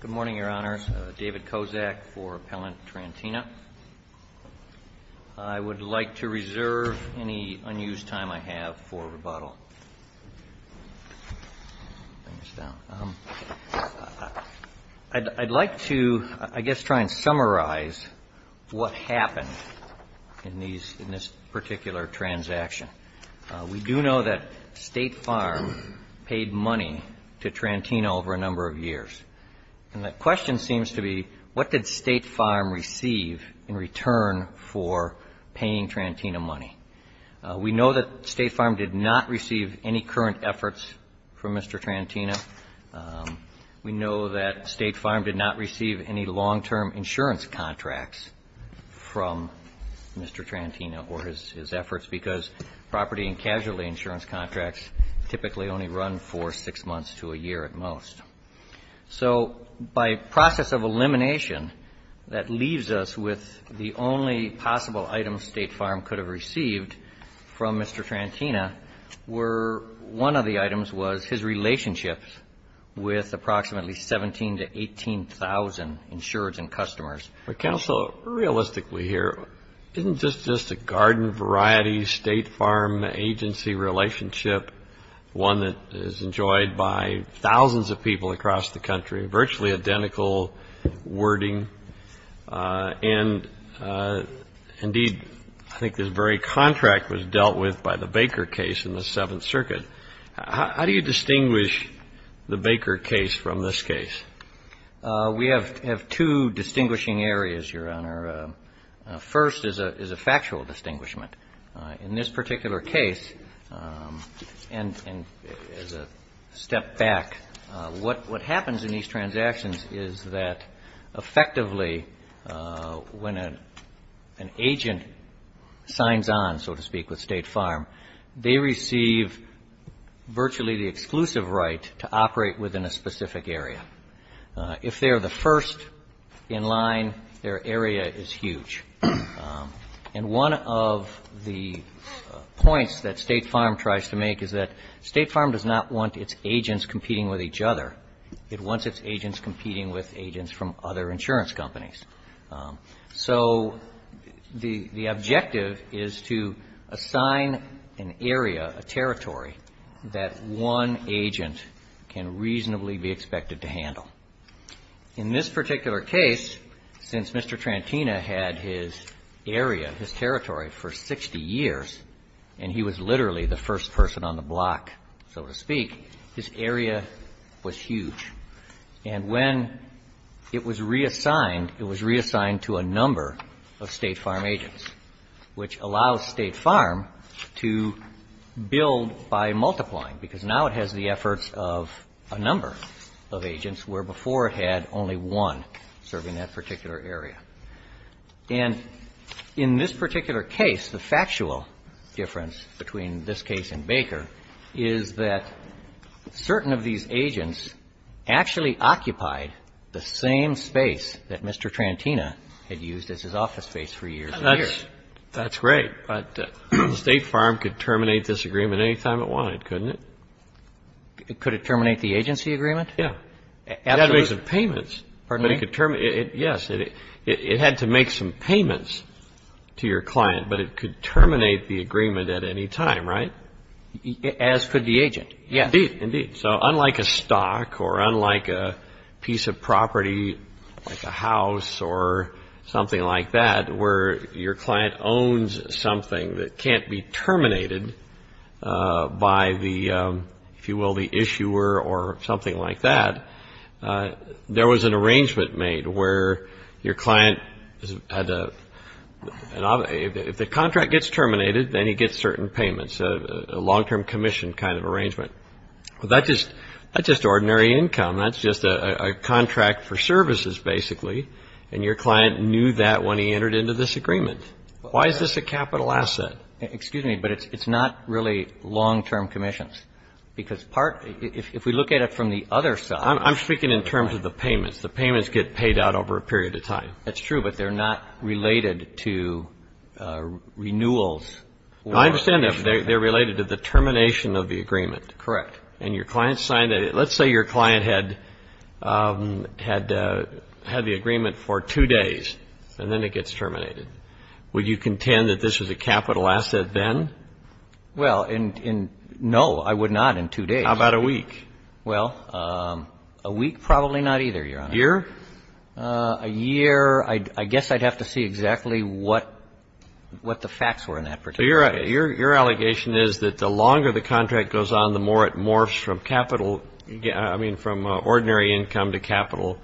Good morning, Your Honors. David Kozak for Appellant Trantina. I would like to reserve any unused time I have for rebuttal. I'd like to, I guess, try and summarize what happened in this particular transaction. We do know that State Farm paid money to Trantina over a number of years. And the question seems to be, what did State Farm receive in return for paying Trantina money? We know that State Farm did not receive any current efforts from Mr. Trantina. We know that State Farm did not receive any long-term insurance contracts from Mr. Trantina or his efforts, because property and casualty insurance contracts typically only run for six months to a year at most. So by process of elimination, that leaves us with the only possible items State Farm could have received from Mr. Trantina were, one of the items was his relationships with approximately 17,000 to 18,000 insured and customers. Counsel, realistically here, isn't this just a garden variety State Farm agency relationship, one that is enjoyed by thousands of people across the country, virtually identical wording? And indeed, I think this very contract was dealt with by the Baker case in the Seventh Circuit. How do you distinguish the Baker case from this case? We have two distinguishing areas, Your Honor. First is a factual distinguishment. In this particular case, and as a step back, what happens in these transactions is that effectively when an agent signs on, so to speak, with State Farm, they receive virtually the exclusive right to operate within a specific area. If they're the first in line, their area is huge. And one of the points that State Farm tries to make is that State Farm does not want its agents competing with each other. It wants its agents competing with agents from other insurance companies. So the objective is to assign an area, a territory that one agent can reasonably be expected to handle. In this particular case, since Mr. Trantina had his area, his territory for 60 years, and he was literally the first person on the block, so to speak, his area was huge. And when it was reassigned, it was reassigned to a number of State Farm agents, which allows State Farm to build by multiplying, because now it has the efforts of a number of agents, where before it had only one serving that particular area. And in this particular case, the factual difference between this case and Baker is that certain of these agents actually occupied the same space that Mr. Trantina had used as his office space for years and years. Yes. That's great. But State Farm could terminate this agreement any time it wanted, couldn't it? Could it terminate the agency agreement? Yeah. Absolutely. It had to make some payments. Pardon me? Yes. It had to make some payments to your client, but it could terminate the agreement at any time, right? As could the agent, yes. Indeed, indeed. So unlike a stock or unlike a piece of property, like a house or something like that, where your client owns something that can't be terminated by the, if you will, the issuer or something like that, there was an arrangement made where your client had to, if the contract gets terminated, then he gets certain payments, a long-term commission kind of arrangement. That's just ordinary income. That's just a contract for services, basically. And your client knew that when he entered into this agreement. Why is this a capital asset? Excuse me, but it's not really long-term commissions, because part, if we look at it from the other side. I'm speaking in terms of the payments. The payments get paid out over a period of time. That's true, but they're not related to renewals. I understand that, but they're related to the termination of the agreement. Correct. And your client signed it. Let's say your client had the agreement for two days, and then it gets terminated. Would you contend that this was a capital asset then? Well, no, I would not in two days. How about a week? Well, a week, probably not either, Your Honor. A year? A year. I guess I'd have to see exactly what the facts were in that particular case. So your allegation is that the longer the contract goes on, the more it morphs from capital, I mean, from ordinary income to capital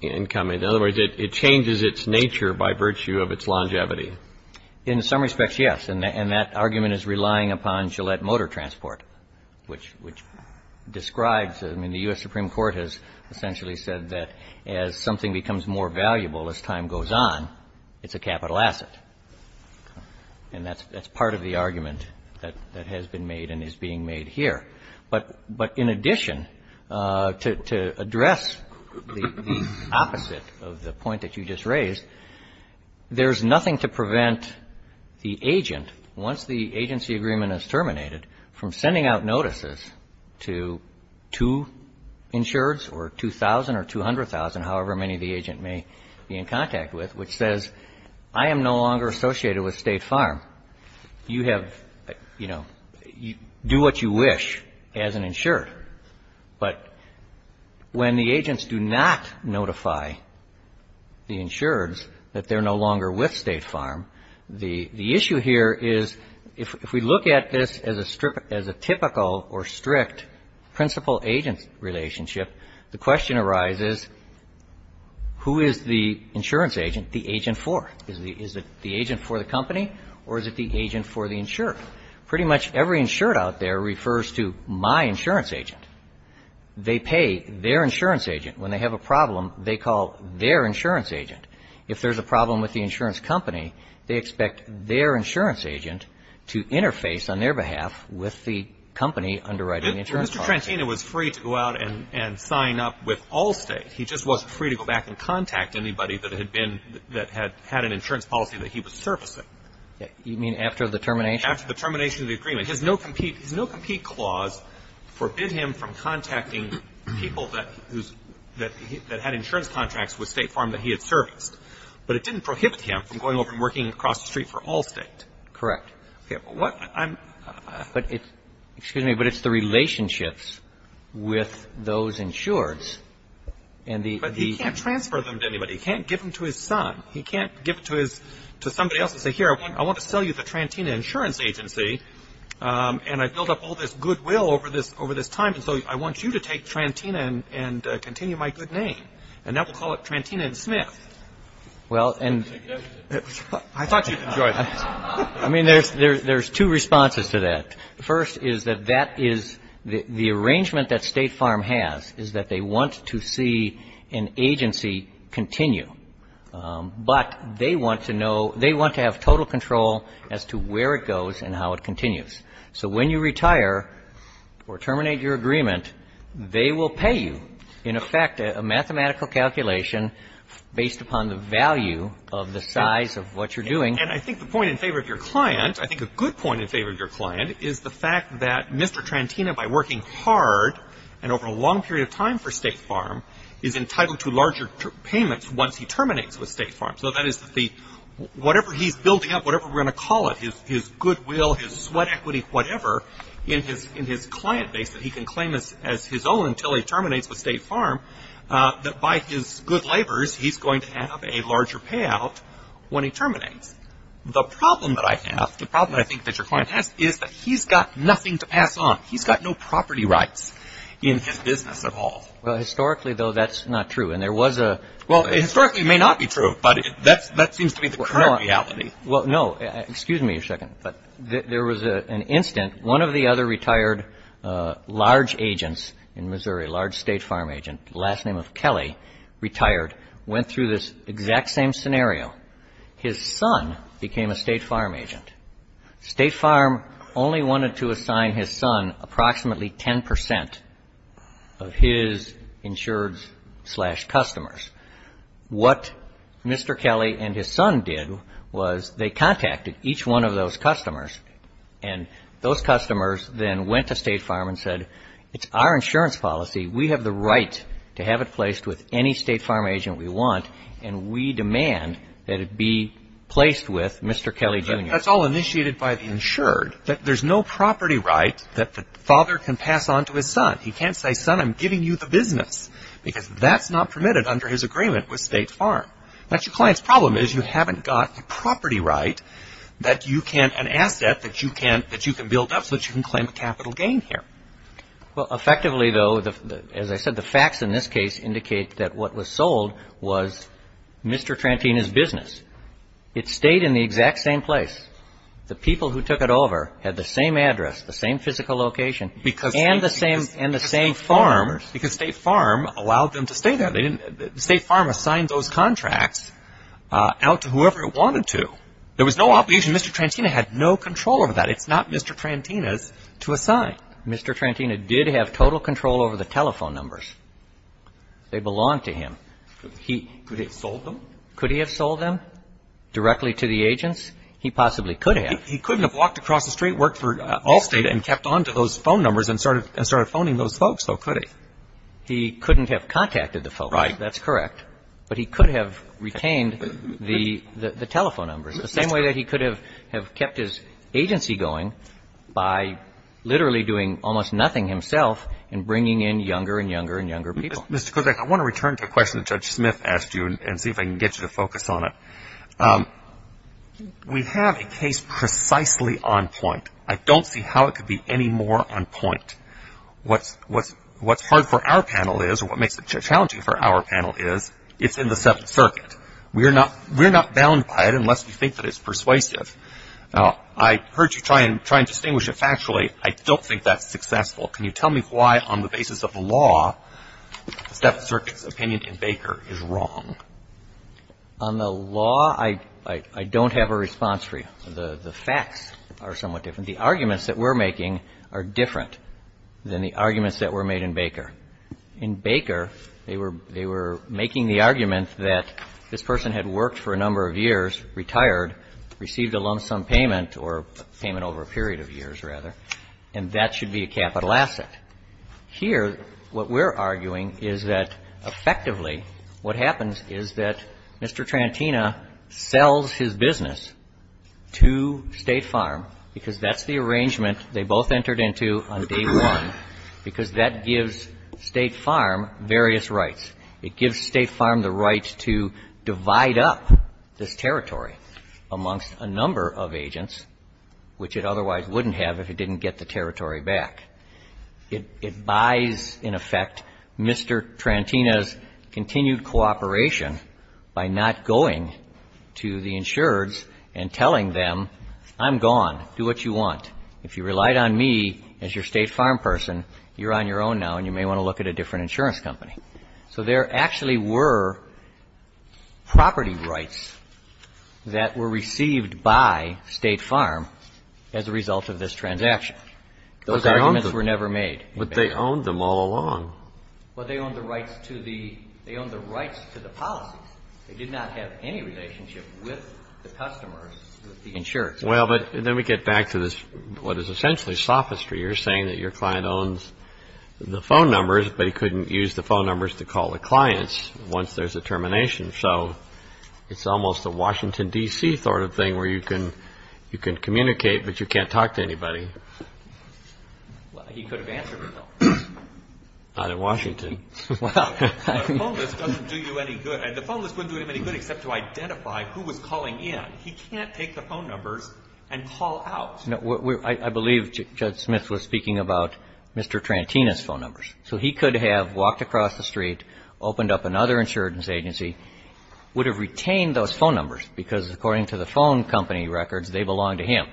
income. In other words, it changes its nature by virtue of its longevity. In some respects, yes, and that argument is relying upon Gillette Motor Transport, which describes, I mean, the U.S. Supreme Court has essentially said that as something becomes more valuable as time goes on, it's a capital asset. And that's part of the argument that has been made and is being made here. But in addition, to address the opposite of the point that you just raised, there's nothing to prevent the agent, once the agency agreement is terminated, from sending out notices to insureds or 2,000 or 200,000, however many the agent may be in contact with, which says, I am no longer associated with State Farm. You have, you know, do what you wish as an insured. But when the agents do not notify the insureds that they're no longer with State Farm, it's a principle agent relationship, the question arises, who is the insurance agent, the agent for? Is it the agent for the company or is it the agent for the insured? Pretty much every insured out there refers to my insurance agent. They pay their insurance agent. When they have a problem, they call their insurance agent. If there's a problem with the insurance company, they expect their insurance agent to interface on their behalf with the company underwriting the insurance policy. Mr. Trantino was free to go out and sign up with all State. He just wasn't free to go back and contact anybody that had been, that had an insurance policy that he was servicing. You mean after the termination? After the termination of the agreement. His no-compete clause forbid him from contacting people that had insurance contracts with State Farm that he had serviced. But it didn't prohibit him from going over and working across the street for all State. Correct. What I'm But it's, excuse me, but it's the relationships with those insureds and the But he can't transfer them to anybody. He can't give them to his son. He can't give them to somebody else and say, here, I want to sell you the Trantino Insurance Agency and I've built up all this goodwill over this time, and so I want you to take Trantino and continue my good name. And now we'll call it Trantino and Smith. Well, and I thought you'd enjoy that. I mean, there's two responses to that. First is that that is, the arrangement that State Farm has is that they want to see an agency continue. But they want to know, they want to have total control as to where it goes and how it continues. So when you retire or terminate your agreement, they will pay you, in effect, a mathematical calculation based upon the value of the size of what you're doing. And I think the point in favor of your client, I think a good point in favor of your client, is the fact that Mr. Trantino, by working hard and over a long period of time for State Farm, is entitled to larger payments once he terminates with State Farm. So that is, whatever he's building up, whatever we're going to call it, his goodwill, his sweat equity, whatever, in his client base that he can claim as his own until he terminates with State Farm, that by his good labors, he's going to have a larger payout when he terminates. The problem that I have, the problem I think that your client has, is that he's got nothing to pass on. He's got no property rights in his business at all. Well, historically, though, that's not true. And there was a Well, historically, it may not be true, but that seems to be the current reality. Well, no. Excuse me a second, but there was an incident. One of the other retired large agents in Missouri, large State Farm agent, last name of Kelly, retired, went through this exact same scenario. His son became a State Farm agent. State Farm only wanted to assign his son approximately 10 percent of his insured slash customers. What Mr. Kelly and his son did was they contacted each one of those customers, and those customers then went to State Farm and said, it's our insurance policy. We have the right to have it placed with any State Farm agent we want, and we demand that it be placed with Mr. Kelly Jr. That's all initiated by the insured. There's no property right that the father can pass on to his son. He can't say, son, I'm giving you the business, because that's not permitted under his agreement with State Farm. That's your client's problem, is you haven't got the property right that you can, an asset that you can build up so that you can claim a capital gain here. Well, effectively, though, as I said, the facts in this case indicate that what was who took it over had the same address, the same physical location, and the same phone numbers, because State Farm allowed them to stay there. State Farm assigned those contracts out to whoever it wanted to. There was no obligation. Mr. Trantina had no control over that. It's not Mr. Trantina's to assign. Mr. Trantina did have total control over the telephone numbers. They belonged to him. Could he have sold them? Directly to the agents? He possibly could have. He couldn't have walked across the street, worked for Allstate, and kept on to those phone numbers and started phoning those folks, though, could he? He couldn't have contacted the folks. Right. That's correct. But he could have retained the telephone numbers, the same way that he could have kept his agency going by literally doing almost nothing himself and bringing in younger and younger and younger people. Mr. Kodak, I want to return to a question that Judge Smith asked you and see if I can get you to focus on it. We have a case precisely on point. I don't see how it could be any more on point. What's hard for our panel is, or what makes it challenging for our panel is, it's in the Seventh Circuit. We're not bound by it unless we think that it's persuasive. Now, I heard you try and distinguish it factually. I don't think that's right. I think that the Seventh Circuit's opinion in Baker is wrong. On the law, I don't have a response for you. The facts are somewhat different. The arguments that we're making are different than the arguments that were made in Baker. In Baker, they were making the argument that this person had worked for a number of years, retired, received a lump sum payment or payment over a period of years, rather, and that should be a capital asset. Here, what we're arguing is that, effectively, what happens is that Mr. Trantina sells his business to State Farm because that's the arrangement they both entered into on day one, because that gives State Farm various rights. It gives State Farm the right to divide up this territory amongst a number of agents, which it otherwise wouldn't have if it didn't get the territory back. It buys, in effect, Mr. Trantina's continued cooperation by not going to the insureds and telling them, I'm gone. Do what you want. If you relied on me as your State Farm person, you're on your own now and you may want to look at a different insurance company. So there actually were property rights that were received by State Farm, as a result of this transaction. Those arguments were never made. But they owned them all along. Well, they owned the rights to the policies. They did not have any relationship with the customers, with the insureds. Well, but then we get back to this, what is essentially sophistry. You're saying that your client owns the phone numbers, but he couldn't use the phone numbers to call the clients once there's a termination. So it's almost a Washington, D.C. sort of thing where you can communicate, but you can't talk to anybody. Well, he could have answered it, though. Not in Washington. The phone list doesn't do you any good. And the phone list wouldn't do him any good except to identify who was calling in. He can't take the phone numbers and call out. I believe Judge Smith was speaking about Mr. Trantina's phone numbers. So he could have walked across the street, opened up another insurance agency, would have retained those phone numbers, because according to the phone company records, they belonged to him.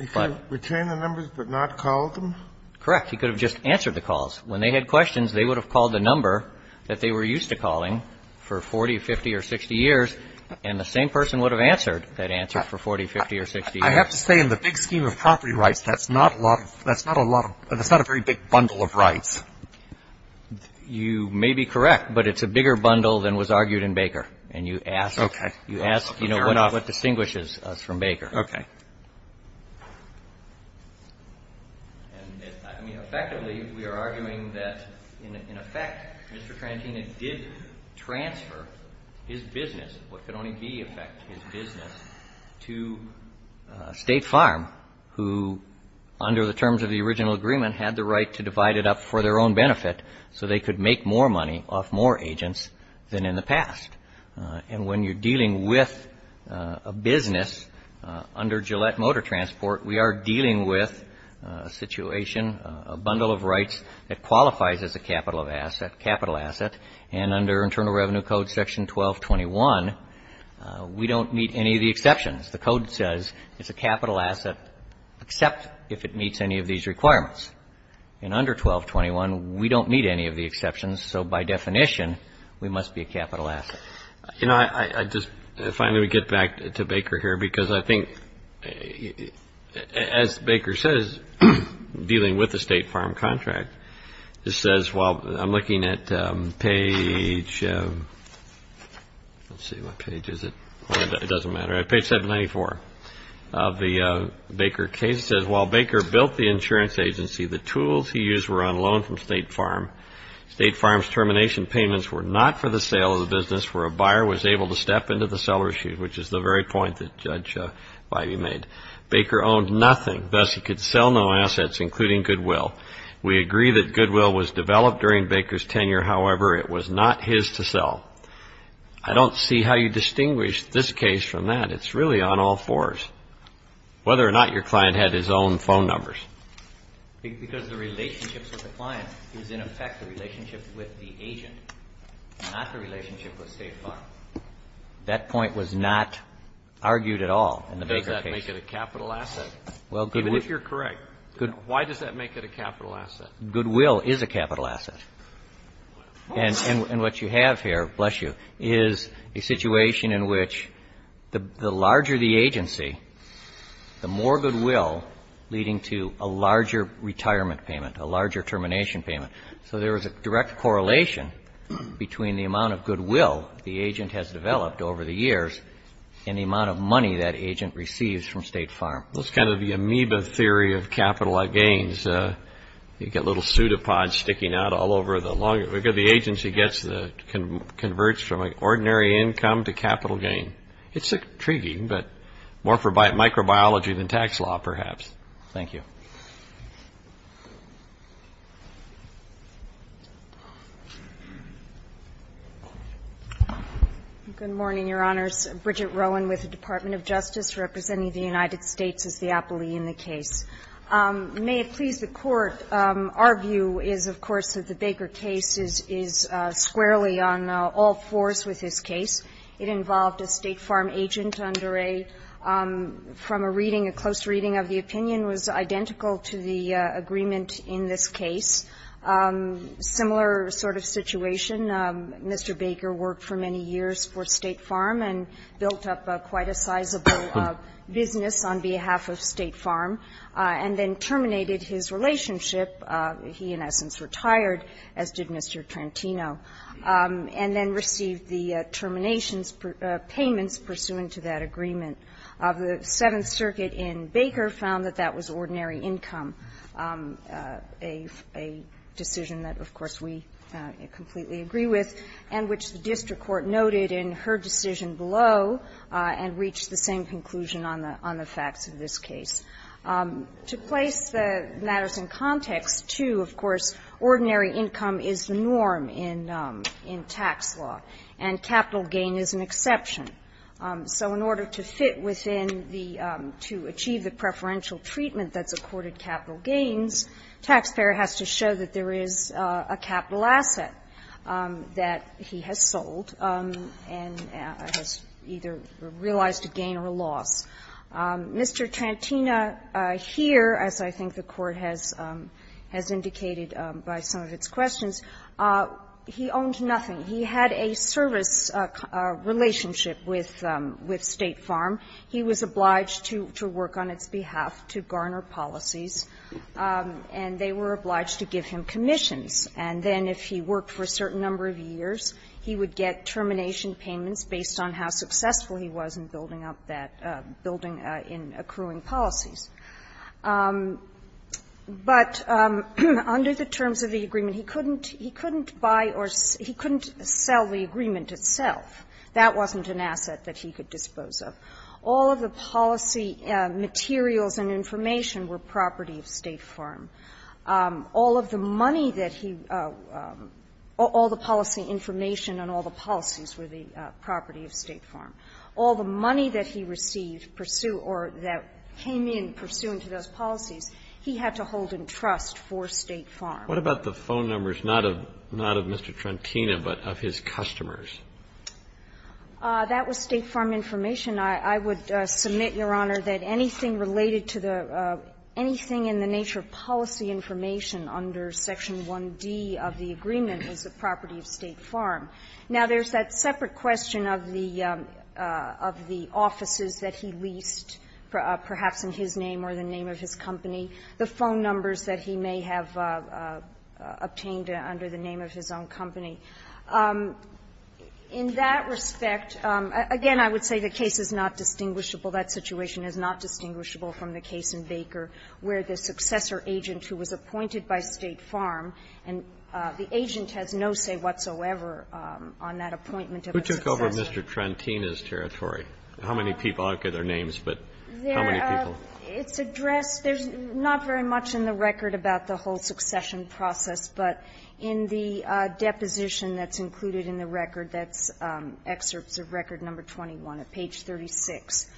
He could have retained the numbers but not called them? Correct. He could have just answered the calls. When they had questions, they would have called the number that they were used to calling for 40, 50, or 60 years, and the same person would have answered that answer for 40, 50, or 60 years. I have to say, in the big scheme of property rights, that's not a lot of – that's not a lot of – that's not a very big bundle of rights. You may be correct, but it's a bigger bundle than was argued in Baker. And you ask – Okay. You ask, you know, what distinguishes us from Baker. Okay. I mean, effectively, we are arguing that, in effect, Mr. Trantina did transfer his business, what could only be, in effect, his so they could make more money off more agents than in the past. And when you're dealing with a business, under Gillette Motor Transport, we are dealing with a situation, a bundle of rights, that qualifies as a capital asset, and under Internal Revenue Code section 1221, we don't meet any of the exceptions. The code says it's a capital asset except if it meets any of these requirements. And under 1221, we don't meet any of the exceptions. So, by definition, we must be a capital asset. You know, I just – if I may get back to Baker here, because I think, as Baker says, dealing with a state farm contract, it says while – I'm looking at page – let's see, what page is it? It doesn't matter. Page 794 of the Baker case says, While Baker built the insurance agency, the tools he used were on loan from State Farm. State Farm's termination payments were not for the sale of the business where a buyer was able to step into the seller's shoes, which is the very point that Judge Biby made. Baker owned nothing, thus he could sell no assets, including Goodwill. We agree that Goodwill was developed during Baker's tenure. However, it was not his to sell. I don't see how you distinguish this case from that. It's really on all fours, whether or not your client had his own phone numbers. Because the relationships with the client is, in effect, the relationship with the agent, not the relationship with State Farm. That point was not argued at all in the Baker case. Does that make it a capital asset? Well, Goodwill – Even if you're correct, why does that make it a capital asset? Goodwill is a capital asset. And what you have here, bless you, is a situation in which the larger the agency, the more Goodwill leading to a larger retirement payment, a larger termination payment. So there is a direct correlation between the amount of Goodwill the agent has developed over the years and the amount of money that agent receives from State Farm. That's kind of the amoeba theory of capital gains. You get little pseudopods sticking out all over. The agency converts from an ordinary income to capital gain. It's intriguing, but more for microbiology than tax law, perhaps. Thank you. Good morning, Your Honors. Bridget Rowan with the Department of Justice, representing the United States as the appellee in the case. May it please the Court, our view is, of course, that the Baker case is squarely on all fours with this case. It involved a State Farm agent under a – from a reading, a close reading of the opinion was identical to the agreement in this case. Similar sort of situation. Mr. Baker worked for many years for State Farm and built up quite a sizable business on behalf of State Farm. And then terminated his relationship. He, in essence, retired, as did Mr. Trantino, and then received the terminations payments pursuant to that agreement. The Seventh Circuit in Baker found that that was ordinary income, a decision that, of course, we completely agree with and which the district court noted in her decision below and reached the same conclusion on the facts of this case. To place the matters in context, too, of course, ordinary income is the norm in tax law, and capital gain is an exception. So in order to fit within the – to achieve the preferential treatment that's accorded capital gains, taxpayer has to show that there is a capital asset that he has sold and has either realized a gain or a loss. Mr. Trantino here, as I think the Court has indicated by some of its questions, he owned nothing. He had a service relationship with State Farm. He was obliged to work on its behalf to garner policies. And they were obliged to give him commissions. And then if he worked for a certain number of years, he would get termination payments based on how successful he was in building up that – building – in accruing policies. But under the terms of the agreement, he couldn't – he couldn't buy or – he couldn't sell the agreement itself. That wasn't an asset that he could dispose of. All of the policy materials and information were property of State Farm. All of the money that he – all the policy information and all the policies were the property of State Farm. All the money that he received pursue – or that came in pursuant to those policies, he had to hold in trust for State Farm. What about the phone numbers, not of – not of Mr. Trantino, but of his customers? That was State Farm information. I would submit, Your Honor, that anything related to the – anything in the nature of policy information under Section 1D of the agreement was the property of State Farm. Now, there's that separate question of the – of the offices that he leased, perhaps in his name or the name of his company, the phone numbers that he may have obtained under the name of his own company. In that respect, again, I would say the case is not distinguishable. That situation is not distinguishable from the case in Baker, where the successor agent who was appointed by State Farm, and the agent has no say whatsoever on that appointment of a successor. Who took over Mr. Trantino's territory? How many people? I don't get their names, but how many people? There – it's addressed – there's not very much in the record about the whole position that's included in the record. That's excerpts of Record No. 21 at page 36.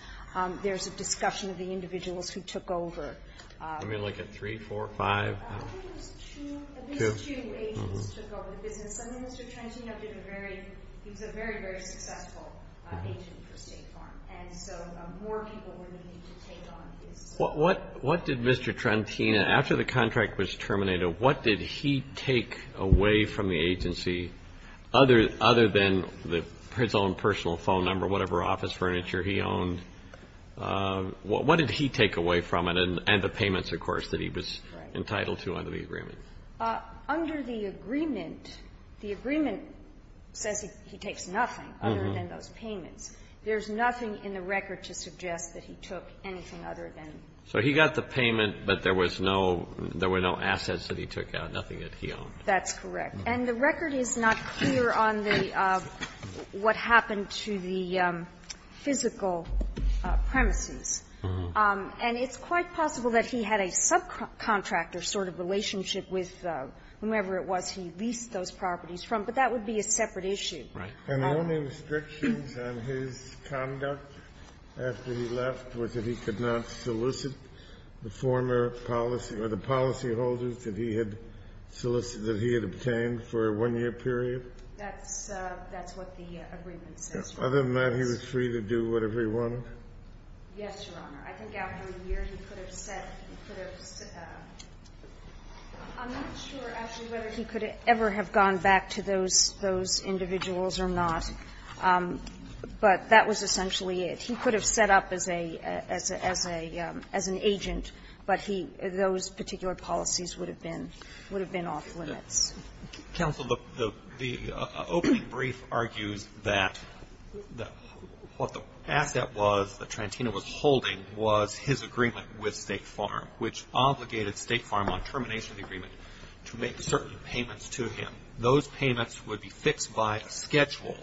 There's a discussion of the individuals who took over. Let me look at three, four, five. I think it was two – these two agents took over the business. I mean, Mr. Trantino did a very – he was a very, very successful agent for State Farm. And so more people were needed to take on his – What did Mr. Trantino – after the contract was terminated, what did he take away from the agency other – other than the – his own personal phone number, whatever office furniture he owned? What did he take away from it? And the payments, of course, that he was entitled to under the agreement. Under the agreement, the agreement says he takes nothing other than those payments. There's nothing in the record to suggest that he took anything other than – So he got the payment, but there was no – there were no assets that he took out, nothing that he owned. That's correct. And the record is not clear on the – what happened to the physical premises. And it's quite possible that he had a subcontractor sort of relationship with whomever it was he leased those properties from. But that would be a separate issue. Right. And the only restrictions on his conduct after he left was that he could not solicit the former policy or the policyholders that he had solicited – that he had obtained for a one-year period? That's what the agreement says. Other than that, he was free to do whatever he wanted? Yes, Your Honor. I think after a year, he could have set – he could have – I'm not sure, actually, whether he could ever have gone back to those individuals or not. But that was essentially it. He could have set up as a – as an agent, but he – those particular policies would have been off limits. Counsel, the opening brief argues that what the asset was that Trantino was holding was his agreement with State Farm, which obligated State Farm on termination of the agreement to make certain payments to him. Those payments would be fixed by a schedule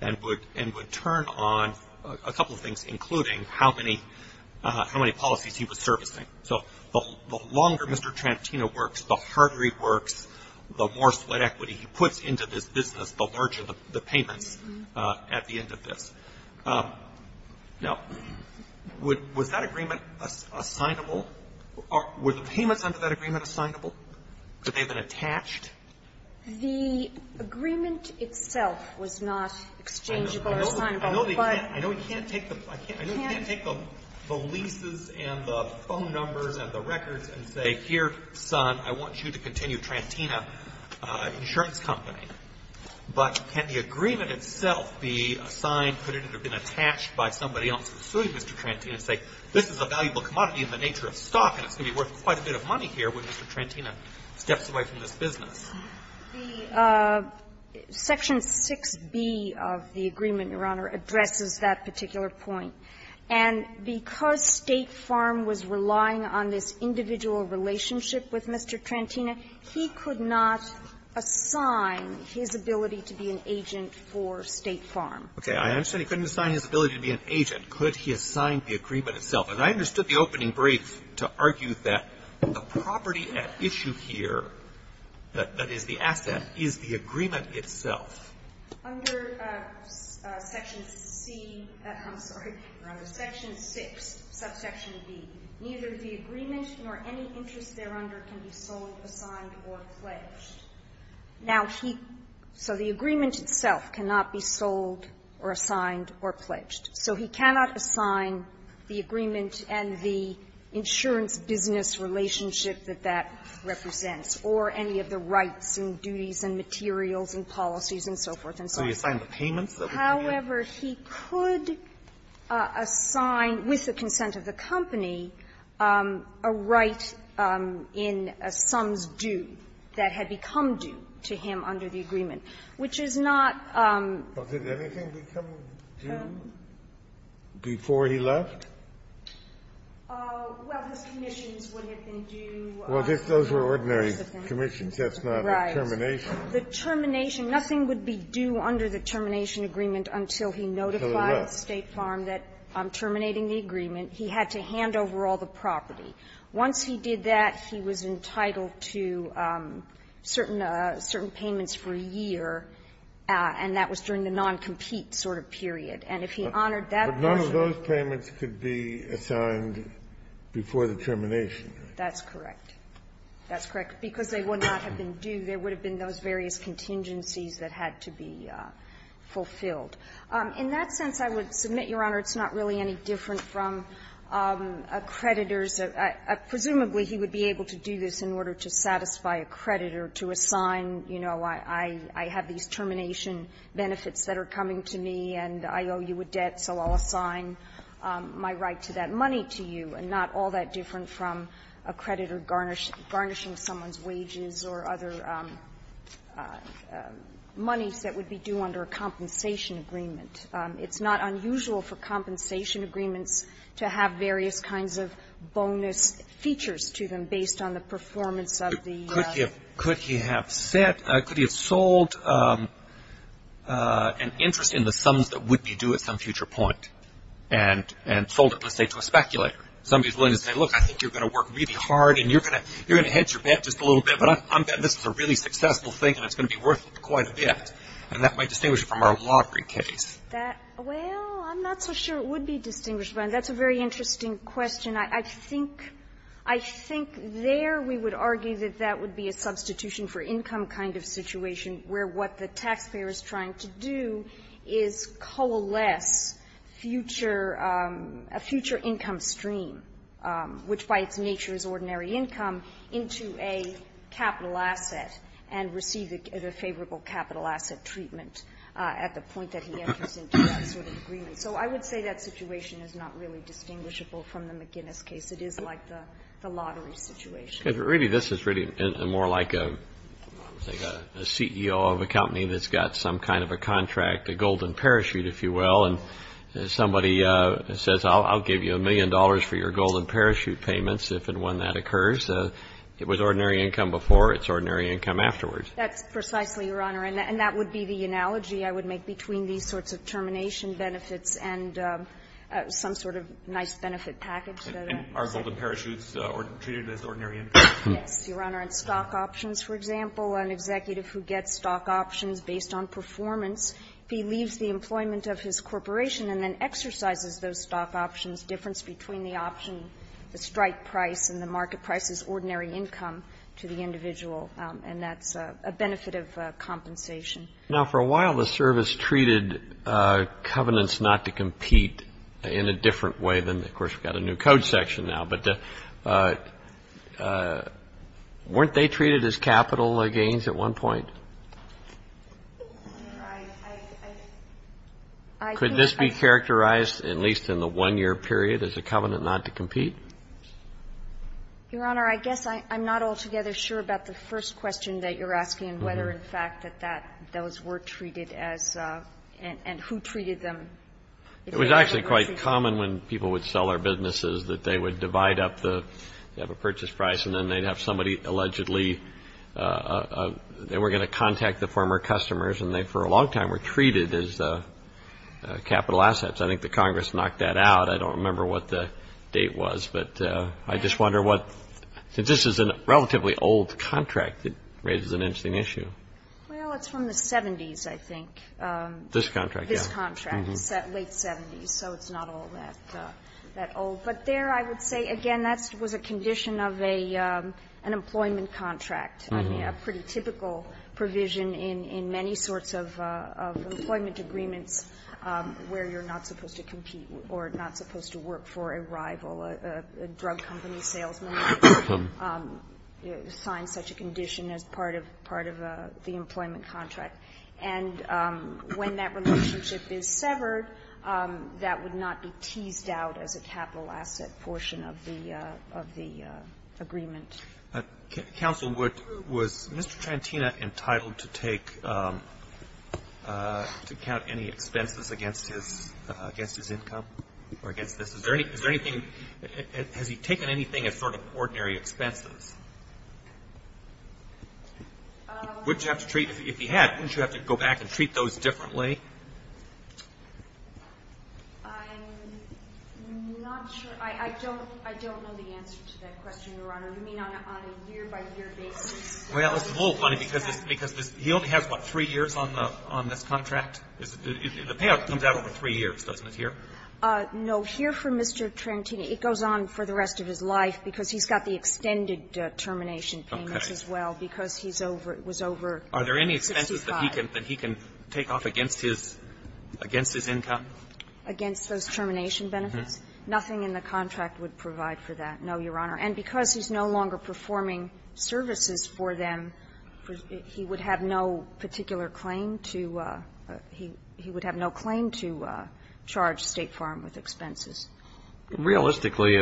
and would – and would turn on a couple of things, including how many – how many policies he was servicing. So the longer Mr. Trantino works, the harder he works, the more split equity he puts into this business, the larger the payments at the end of this. Now, was that agreement assignable? Were the payments under that agreement assignable? Could they have been attached? The agreement itself was not exchangeable or assignable, but – I know they can't – I know he can't take the – I know he can't take the leases and the phone numbers and the records and say, here, son, I want you to continue Trantino Insurance Company. But can the agreement itself be assigned, could it have been attached by somebody else pursuing Mr. Trantino, say, this is a valuable commodity in the nature of stock and it's going to be worth quite a bit of money here when Mr. Trantino steps away from this business? The Section 6b of the agreement, Your Honor, addresses that particular point. And because State Farm was relying on this individual relationship with Mr. Trantino, he could not assign his ability to be an agent for State Farm. Okay. I understand he couldn't assign his ability to be an agent. Could he assign the agreement itself? I understood the opening brief to argue that the property at issue here, that is, the asset, is the agreement itself. Under Section C – I'm sorry, Your Honor, Section 6, subsection b, neither the agreement nor any interest thereunder can be sold, assigned, or pledged. Now, he – so the agreement itself cannot be sold or assigned or pledged. So he cannot assign the agreement and the insurance business relationship that that represents, or any of the rights and duties and materials and policies and so forth and so on. So he assigned the payments that were to be made? However, he could assign, with the consent of the company, a right in a sums due that had become due to him under the agreement, which is not – But did anything become due? Before he left? Well, his commissions would have been due. Well, those were ordinary commissions. That's not a termination. Right. The termination – nothing would be due under the termination agreement until he notified State Farm that, terminating the agreement, he had to hand over all the property. Once he did that, he was entitled to certain payments for a year, and that was during the non-compete sort of period. And if he honored that person – But none of those payments could be assigned before the termination, right? That's correct. That's correct. Because they would not have been due. There would have been those various contingencies that had to be fulfilled. In that sense, I would submit, Your Honor, it's not really any different from a creditor's – presumably, he would be able to do this in order to satisfy a creditor to assign, you know, I have these termination benefits that are coming to me, and I owe you a debt, so I'll assign my right to that money to you, and not all that different from a creditor garnishing someone's wages or other monies that would be due under a compensation agreement. It's not unusual for compensation agreements to have various kinds of bonus features to them based on the performance of the – Could he have set – could he have sold an interest in the sums that would be due at some future point and sold it, let's say, to a speculator? Somebody's willing to say, look, I think you're going to work really hard, and you're going to hedge your bet just a little bit, but I'm betting this is a really successful thing, and it's going to be worth quite a bit. And that might distinguish it from our lottery case. That – well, I'm not so sure it would be distinguished by – that's a very interesting question. I think – I think there we would argue that that would be a substitution for income kind of situation where what the taxpayer is trying to do is coalesce future – a future income stream, which by its nature is ordinary income, into a capital asset and receive a favorable capital asset treatment at the point that he enters into that sort of agreement. So I would say that situation is not really distinguishable from the McGinnis case. It is like the lottery situation. But really, this is really more like a CEO of a company that's got some kind of a contract, a golden parachute, if you will, and somebody says, I'll give you a million dollars for your golden parachute payments if and when that occurs. It was ordinary income before. It's ordinary income afterwards. That's precisely, Your Honor, and that would be the analogy I would make between these sorts of termination benefits and some sort of nice benefit package that I said. And are golden parachutes treated as ordinary income? Yes, Your Honor. And stock options, for example, an executive who gets stock options based on performance, if he leaves the employment of his corporation and then exercises those stock options, difference between the option, the strike price and the market price is ordinary income to the individual, and that's a benefit of compensation. Now, for a while, the service treated covenants not to compete in a different way than, of course, we've got a new code section now, but weren't they treated as capital gains at one point? I think I can't answer that. Could this be characterized, at least in the 1-year period, as a covenant not to compete? Your Honor, I guess I'm not altogether sure about the first question that you're asking, whether, in fact, that those were treated as and who treated them. It was actually quite common when people would sell their businesses that they would divide up the purchase price and then they'd have somebody allegedly, they were going to contact the former customers and they, for a long time, were treated as capital assets. I think the Congress knocked that out. I don't remember what the date was, but I just wonder what, since this is a relatively old contract, it raises an interesting issue. Well, it's from the 70s, I think. This contract, yeah. This contract, late 70s, so it's not all that old. But there, I would say, again, that was a condition of an employment contract, a pretty typical provision in many sorts of employment agreements where you're not supposed to sign such a condition as part of the employment contract. And when that relationship is severed, that would not be teased out as a capital asset portion of the agreement. Counsel, was Mr. Trantina entitled to take, to count any expenses against his income or against this? Is there anything, has he taken anything as sort of ordinary expenses? Would you have to treat, if he had, wouldn't you have to go back and treat those differently? I'm not sure. I don't know the answer to that question, Your Honor. You mean on a year-by-year basis? Well, it's a little funny because he only has, what, three years on this contract? The payout comes out over three years, doesn't it, here? No. Here, for Mr. Trantina, it goes on for the rest of his life because he's got the extended termination payments as well because he's over, it was over 65. Are there any expenses that he can, that he can take off against his, against his income? Against those termination benefits? Nothing in the contract would provide for that, no, Your Honor. And because he's no longer performing services for them, he would have no particular claim to, he would have no claim to charge State Farm with expenses. Realistically,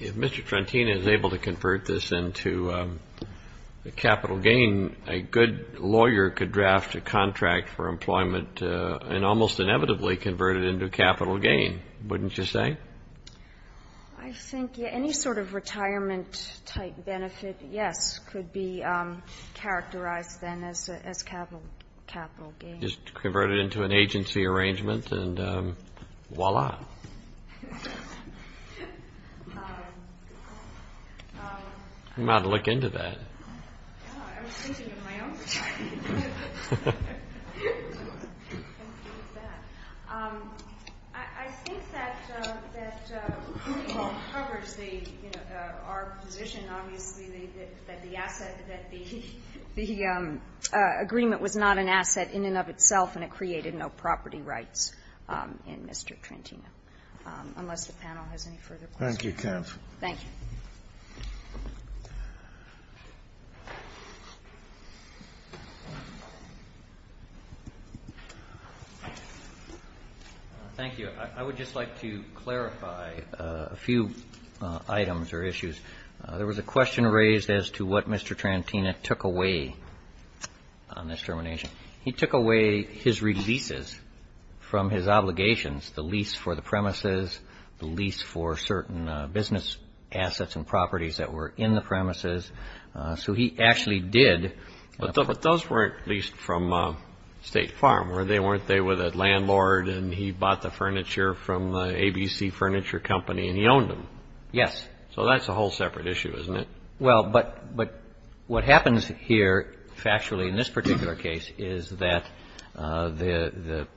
if Mr. Trantina is able to convert this into a capital gain, a good lawyer could draft a contract for employment and almost inevitably convert it into a capital gain, wouldn't you say? I think any sort of retirement-type benefit, yes, could be characterized then as capital gain. Just convert it into an agency arrangement and voila. I'm about to look into that. I was thinking of my own. I think that, that covers the, you know, our position, obviously, that the asset, that the, the agreement was not an asset in and of itself and it created no property rights in Mr. Trantina. Unless the panel has any further questions. Thank you, counsel. Thank you. Thank you. I would just like to clarify a few items or issues. There was a question raised as to what Mr. Trantina took away on this termination. He took away his releases from his obligations, the lease for the premises, the lease for certain business assets and properties that were in the premises. So he actually did. But those weren't leased from State Farm, were they? Weren't they with a landlord and he bought the furniture from the ABC Furniture Company and he owned them? Yes. So that's a whole separate issue, isn't it? Well, but, but what happens here factually in this particular case is that the, the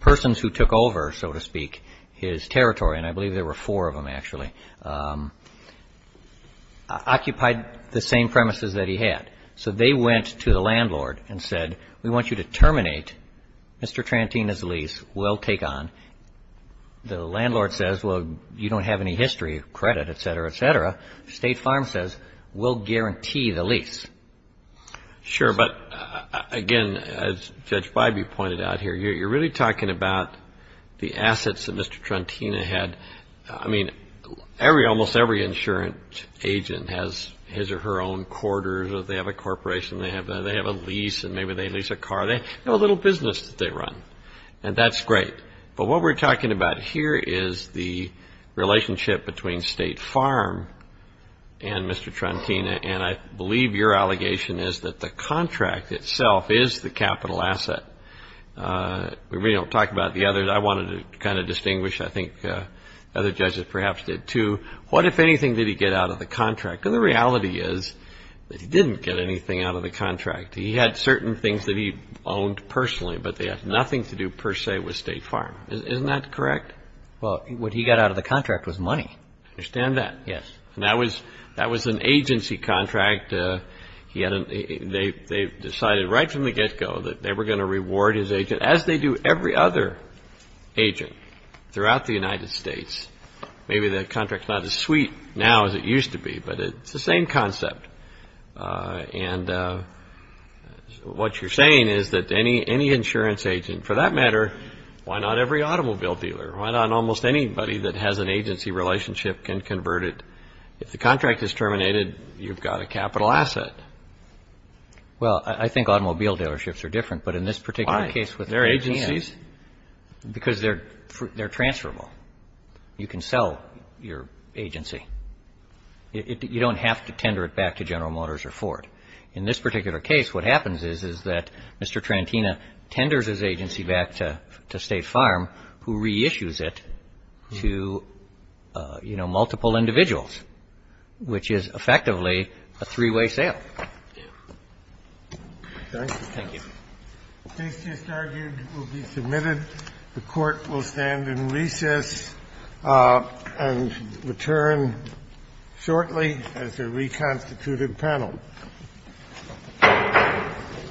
persons who took over, so to speak, his territory, and I believe there were four of them actually, occupied the same premises that he had. So they went to the landlord and said, we want you to terminate Mr. Trantina's lease. We'll take on. The landlord says, well, you don't have any history, credit, et cetera, et cetera. State Farm says, we'll guarantee the lease. Sure. But again, as Judge Bybee pointed out here, you're really talking about the assets that Mr. Trantina had. I mean, every, almost every insurance agent has his or her own quarters or they have a corporation, they have a, they have a lease and maybe they lease a car. They have a little business that they run and that's great. But what we're talking about here is the relationship between State Farm and Mr. Trantina. And I believe your allegation is that the contract itself is the capital asset. We don't talk about the others. I wanted to kind of distinguish, I think other judges perhaps did too. What, if anything, did he get out of the contract? Because the reality is that he didn't get anything out of the contract. He had certain things that he owned personally, but they had nothing to do per se with State Farm. Isn't that correct? Well, what he got out of the contract was money. I understand that. Yes. And that was, that was an agency contract. He had, they decided right from the get-go that they were going to reward his agent, as they do every other agent throughout the United States. Maybe that contract's not as sweet now as it used to be, but it's the same concept. And what you're saying is that any insurance agent, for that matter, why not every automobile dealer? Why not almost anybody that has an agency relationship can convert it? If the contract is terminated, you've got a capital asset. Well, I think automobile dealerships are different, but in this particular case with Trantina. Why? They're agencies. Because they're transferable. You can sell your agency. You don't have to tender it back to General Motors or Ford. In this particular case, what happens is, is that Mr. Trantina tenders his agency back to State Farm, who reissues it to, you know, multiple individuals, which is effectively a three-way sale. Thank you. This just argued will be submitted. The Court will stand in recess and return shortly as a reconstituted panel.